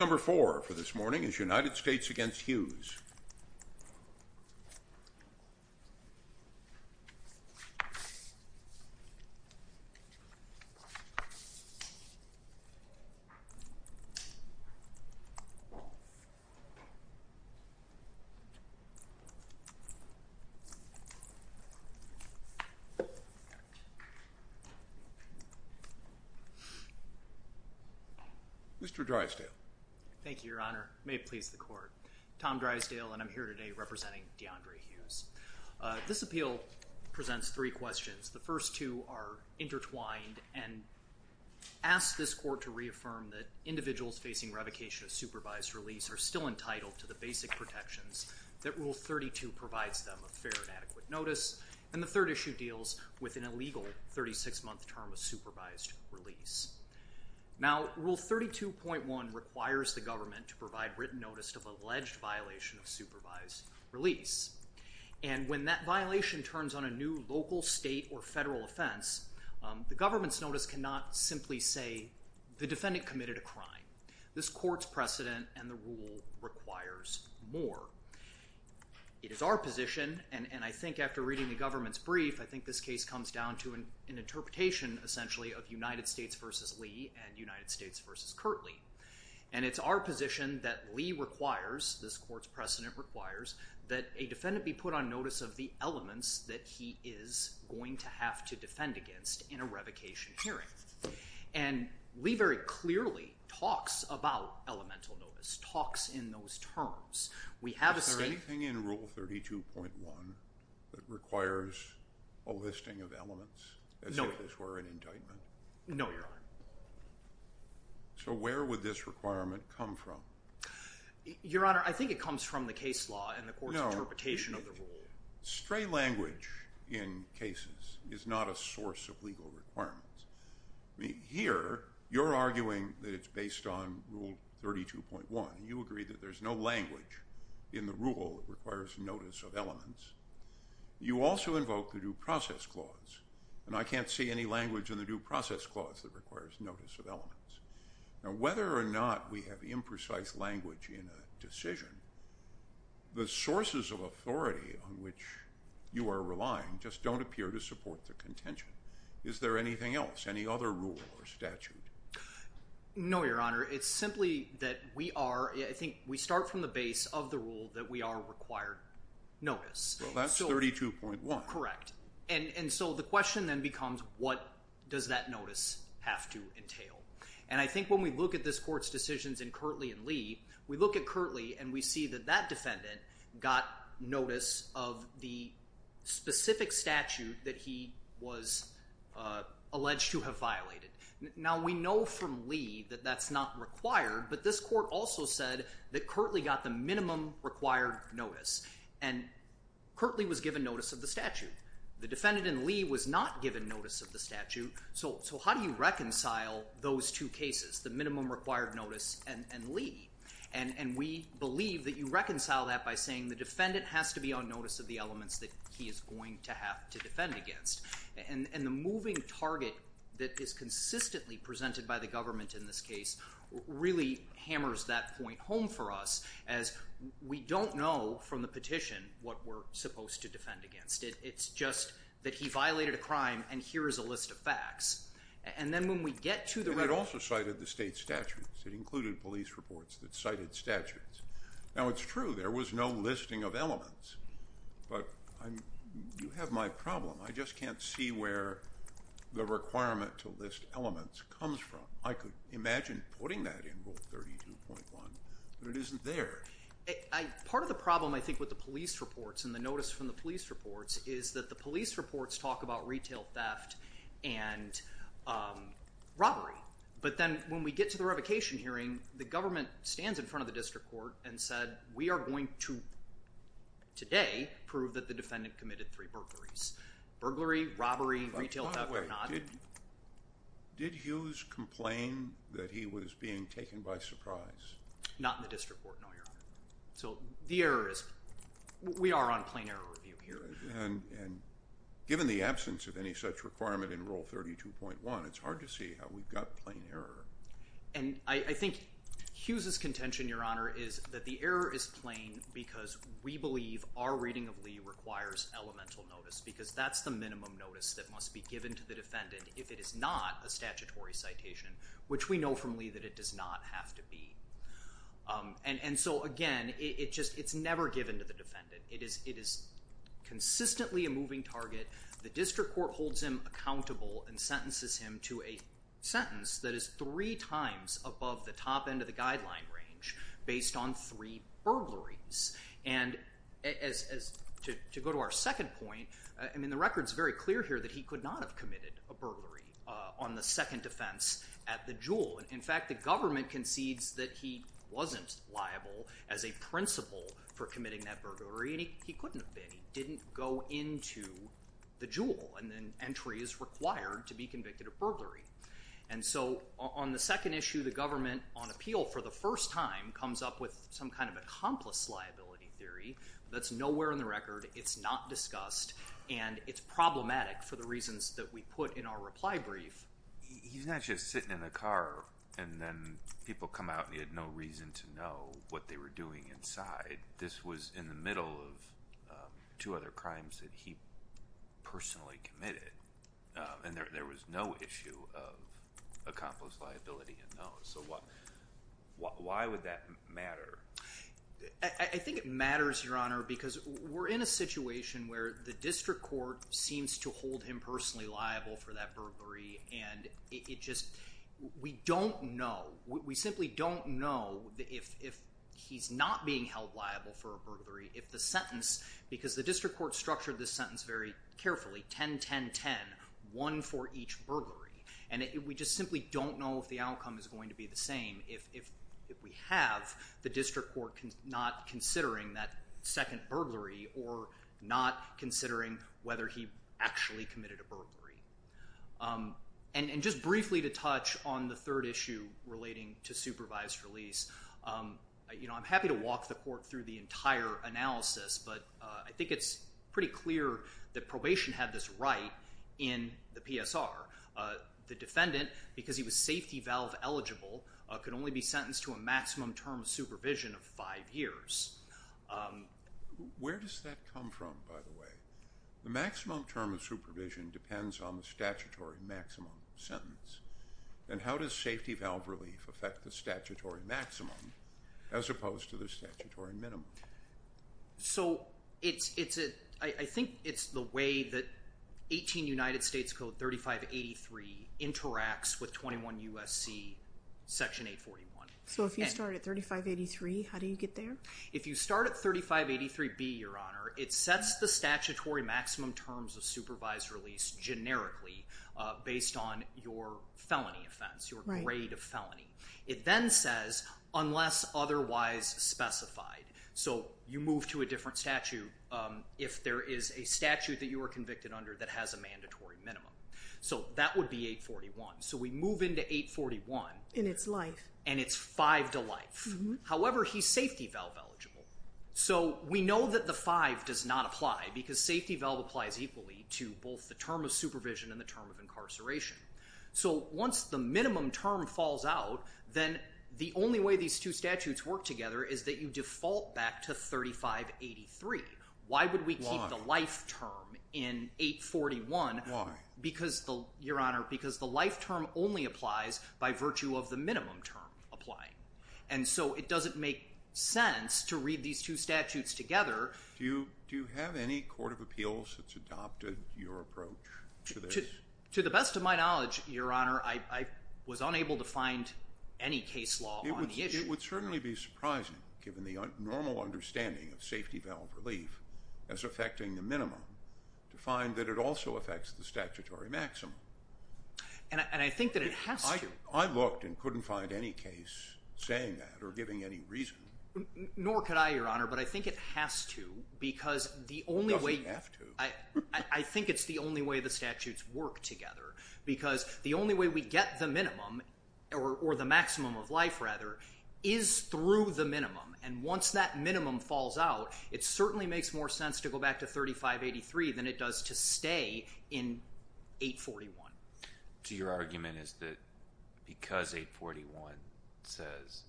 Number four for this morning is United States v. Hughes. Mr. Drysdale. Thank you, Your Honor. May it please the Court. Tom Drysdale, and I'm here today representing Deandre Hughes. This appeal presents three questions. The first two are intertwined and ask this Court to reaffirm that individuals facing revocation of supervised release are still entitled to the basic protections that Rule 32 provides them of fair and adequate notice, and the third issue deals with an illegal 36-month term of supervised release. Now, Rule 32.1 requires the government to provide written notice of alleged violation of supervised release, and when that violation turns on a new local, state, or federal offense, the government's notice cannot simply say the defendant committed a crime. This Court's precedent and the rule requires more. It is our position, and I think after reading the government's brief, I think this case comes down to an interpretation, essentially, of United States v. Lee and United States v. Kirtley, and it's our position that Lee requires, this Court's precedent requires, that a defendant be put on notice of the elements that he is going to have to defend against in a revocation hearing, and Lee very clearly talks about elemental notice, talks in those terms. Is there anything in Rule 32.1 that requires a listing of elements as if this were an indictment? No, Your Honor. So where would this requirement come from? Your Honor, I think it comes from the case law and the Court's interpretation of the rule. Stray language in cases is not a source of legal requirements. Here, you're arguing that it's based on Rule 32.1. You agree that there's no language in the rule that requires notice of elements. You also invoke the Due Process Clause, and I can't see any language in the Due Process Clause that requires notice of elements. Now, whether or not we have imprecise language in a decision, the sources of authority on which you are relying just don't appear to support the contention. Is there anything else, any other rule or statute? No, Your Honor. It's simply that we are—I think we start from the base of the rule that we are required notice. Well, that's 32.1. Correct. And so the question then becomes, what does that notice have to entail? And I think when we look at this Court's decisions in Kirtley and Lee, we look at Kirtley and we see that that defendant got notice of the specific statute that he was alleged to have violated. Now, we know from Lee that that's not required, but this Court also said that Kirtley got the minimum required notice, and Kirtley was given notice of the statute. The defendant in Lee was not given notice of the statute. So how do you reconcile those two cases, the minimum required notice and Lee? And we believe that you reconcile that by saying the defendant has to be on notice of the elements that he is going to have to defend against. And the moving target that is consistently presented by the government in this case really hammers that point home for us as we don't know from the petition what we're supposed to defend against. It's just that he violated a crime and here is a list of facts. And then when we get to the— It also cited the state statutes. It included police reports that cited statutes. Now, it's true there was no listing of elements, but you have my problem. I just can't see where the requirement to list elements comes from. I could imagine putting that in Rule 32.1, but it isn't there. Part of the problem, I think, with the police reports and the notice from the police reports is that the police reports talk about retail theft and robbery. But then when we get to the revocation hearing, the government stands in front of the district court and said, We are going to, today, prove that the defendant committed three burglaries. Burglary, robbery, retail theft or not. Did Hughes complain that he was being taken by surprise? Not in the district court, no, Your Honor. So the error is—we are on plain error review here. And given the absence of any such requirement in Rule 32.1, it's hard to see how we've got plain error. And I think Hughes' contention, Your Honor, is that the error is plain because we believe our reading of Lee requires elemental notice because that's the minimum notice that must be given to the defendant if it is not a statutory citation, which we know from Lee that it does not have to be. And so, again, it's never given to the defendant. It is consistently a moving target. The district court holds him accountable and sentences him to a sentence that is three times above the top end of the guideline range based on three burglaries. And to go to our second point, I mean, the record is very clear here that he could not have committed a burglary on the second offense at the Jewel. In fact, the government concedes that he wasn't liable as a principal for committing that burglary. And he couldn't have been. He didn't go into the Jewel. And then entry is required to be convicted of burglary. And so on the second issue, the government, on appeal for the first time, comes up with some kind of accomplice liability theory that's nowhere in the record. It's not discussed, and it's problematic for the reasons that we put in our reply brief. He's not just sitting in the car, and then people come out, and he had no reason to know what they were doing inside. This was in the middle of two other crimes that he personally committed, and there was no issue of accomplice liability. So why would that matter? I think it matters, Your Honor, because we're in a situation where the district court seems to hold him personally liable for that burglary, and it just, we don't know. We simply don't know if he's not being held liable for a burglary, if the sentence, because the district court structured this sentence very carefully, 10-10-10, one for each burglary. And we just simply don't know if the outcome is going to be the same, if we have the district court not considering that second burglary or not considering whether he actually committed a burglary. And just briefly to touch on the third issue relating to supervised release, I'm happy to walk the court through the entire analysis, but I think it's pretty clear that probation had this right in the PSR. The defendant, because he was safety valve eligible, could only be sentenced to a maximum term of supervision of five years. Where does that come from, by the way? The maximum term of supervision depends on the statutory maximum sentence. And how does safety valve relief affect the statutory maximum as opposed to the statutory minimum? So I think it's the way that 18 United States Code 3583 interacts with 21 U.S.C. Section 841. So if you start at 3583, how do you get there? If you start at 3583B, Your Honor, it sets the statutory maximum terms of supervised release generically based on your felony offense, your grade of felony. It then says, unless otherwise specified. So you move to a different statute if there is a statute that you are convicted under that has a mandatory minimum. So that would be 841. So we move into 841. And it's life. And it's five to life. However, he's safety valve eligible. So we know that the five does not apply because safety valve applies equally to both the term of supervision and the term of incarceration. So once the minimum term falls out, then the only way these two statutes work together is that you default back to 3583. Why would we keep the life term in 841? Why? Because, Your Honor, because the life term only applies by virtue of the minimum term applying. And so it doesn't make sense to read these two statutes together. Do you have any court of appeals that's adopted your approach to this? To the best of my knowledge, Your Honor, I was unable to find any case law on the issue. It would certainly be surprising, given the normal understanding of safety valve relief as affecting the minimum, to find that it also affects the statutory maximum. And I think that it has to. I looked and couldn't find any case saying that or giving any reason. Nor could I, Your Honor, but I think it has to because the only way you have to, I think it's the only way the statutes work together because the only way we get the minimum or the maximum of life, rather, is through the minimum. And once that minimum falls out, it certainly makes more sense to go back to 3583 than it does to stay in 841. So your argument is that because 841 says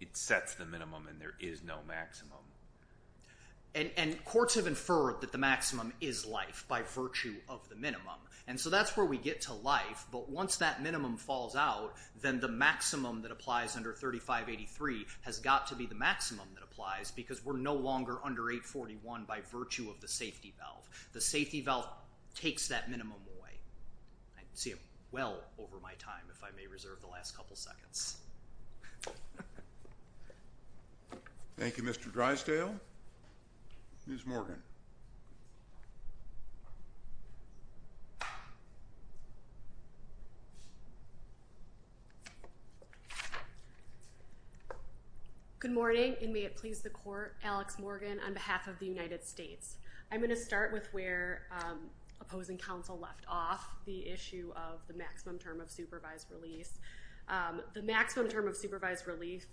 it sets the minimum and there is no maximum. And courts have inferred that the maximum is life by virtue of the minimum. And so that's where we get to life. But once that minimum falls out, then the maximum that applies under 3583 has got to be the maximum that applies because we're no longer under 841 by virtue of the safety valve. The safety valve takes that minimum away. I can see it well over my time if I may reserve the last couple seconds. Thank you, Mr. Drysdale. Ms. Morgan. Good morning, and may it please the Court, Alex Morgan on behalf of the United States. I'm going to start with where opposing counsel left off, the issue of the maximum term of supervised release. The maximum term of supervised release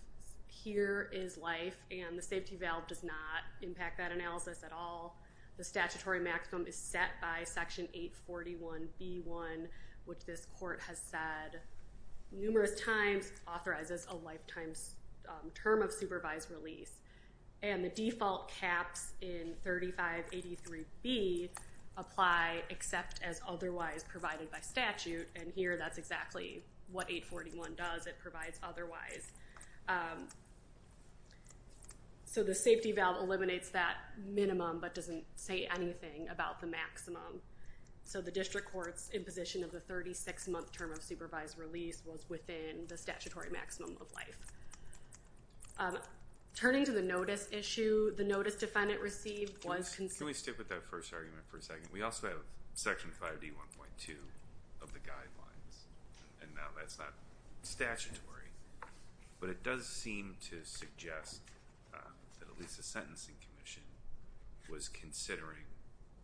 here is life, and the safety valve does not impact that analysis at all. The statutory maximum is set by Section 841b1, which this Court has said numerous times authorizes a lifetime term of supervised release. And the default caps in 3583b apply except as otherwise provided by statute, and here that's exactly what 841 does. It provides otherwise. So the safety valve eliminates that minimum but doesn't say anything about the maximum. So the district court's imposition of the 36-month term of supervised release was within the statutory maximum of life. Turning to the notice issue, the notice defendant received was... Can we stick with that first argument for a second? We also have Section 5D1.2 of the guidelines, and now that's not statutory, but it does seem to suggest that at least the Sentencing Commission was considering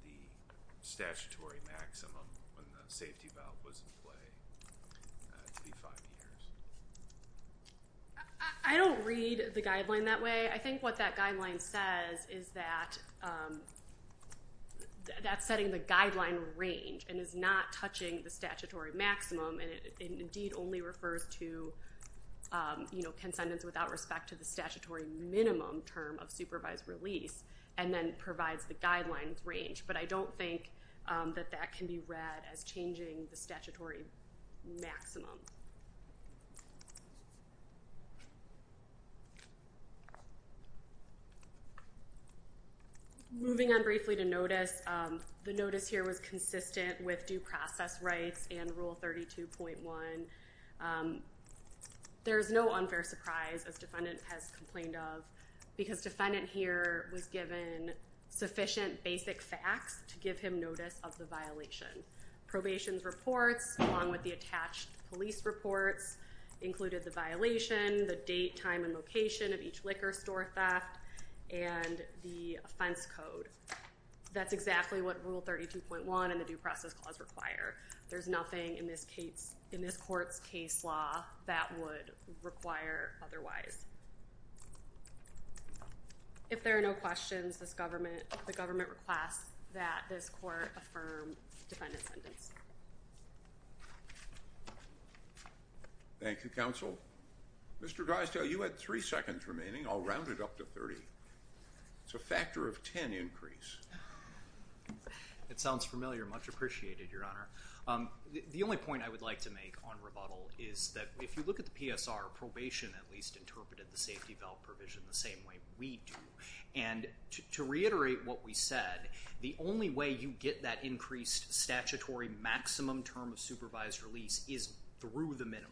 the statutory maximum when the safety valve was in play to be five years. I don't read the guideline that way. I think what that guideline says is that that's setting the guideline range and is not touching the statutory maximum, and it indeed only refers to, you know, consentence without respect to the statutory minimum term of supervised release and then provides the guidelines range, but I don't think that that can be read as changing the statutory maximum. Moving on briefly to notice, the notice here was consistent with due process rights and Rule 32.1. There is no unfair surprise, as defendant has complained of, because defendant here was given sufficient basic facts to give him notice of the violation. Probation's reports, along with the attached police reports, included the violation, the date, time, and location of each liquor store theft, and the offense code. That's exactly what Rule 32.1 and the Due Process Clause require. There's nothing in this court's case law that would require otherwise. If there are no questions, the government requests that this court affirm defendant's sentence. Thank you, Counsel. Mr. Drysdale, you had three seconds remaining. I'll round it up to 30. It's a factor of 10 increase. It sounds familiar. Much appreciated, Your Honor. The only point I would like to make on rebuttal is that if you look at the PSR, probation at least interpreted the safety valve provision the same way we do, and to reiterate what we said, the only way you get that increased statutory maximum term of supervised release is through the minimum.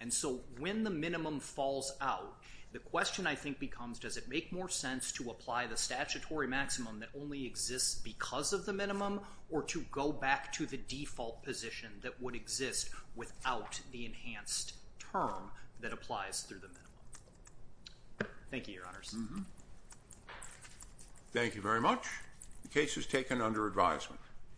And so when the minimum falls out, the question I think becomes, does it make more sense to apply the statutory maximum that only exists because of the minimum, or to go back to the default position that would exist without the enhanced term that applies through the minimum? Thank you, Your Honors. Thank you very much. The case is taken under advisement.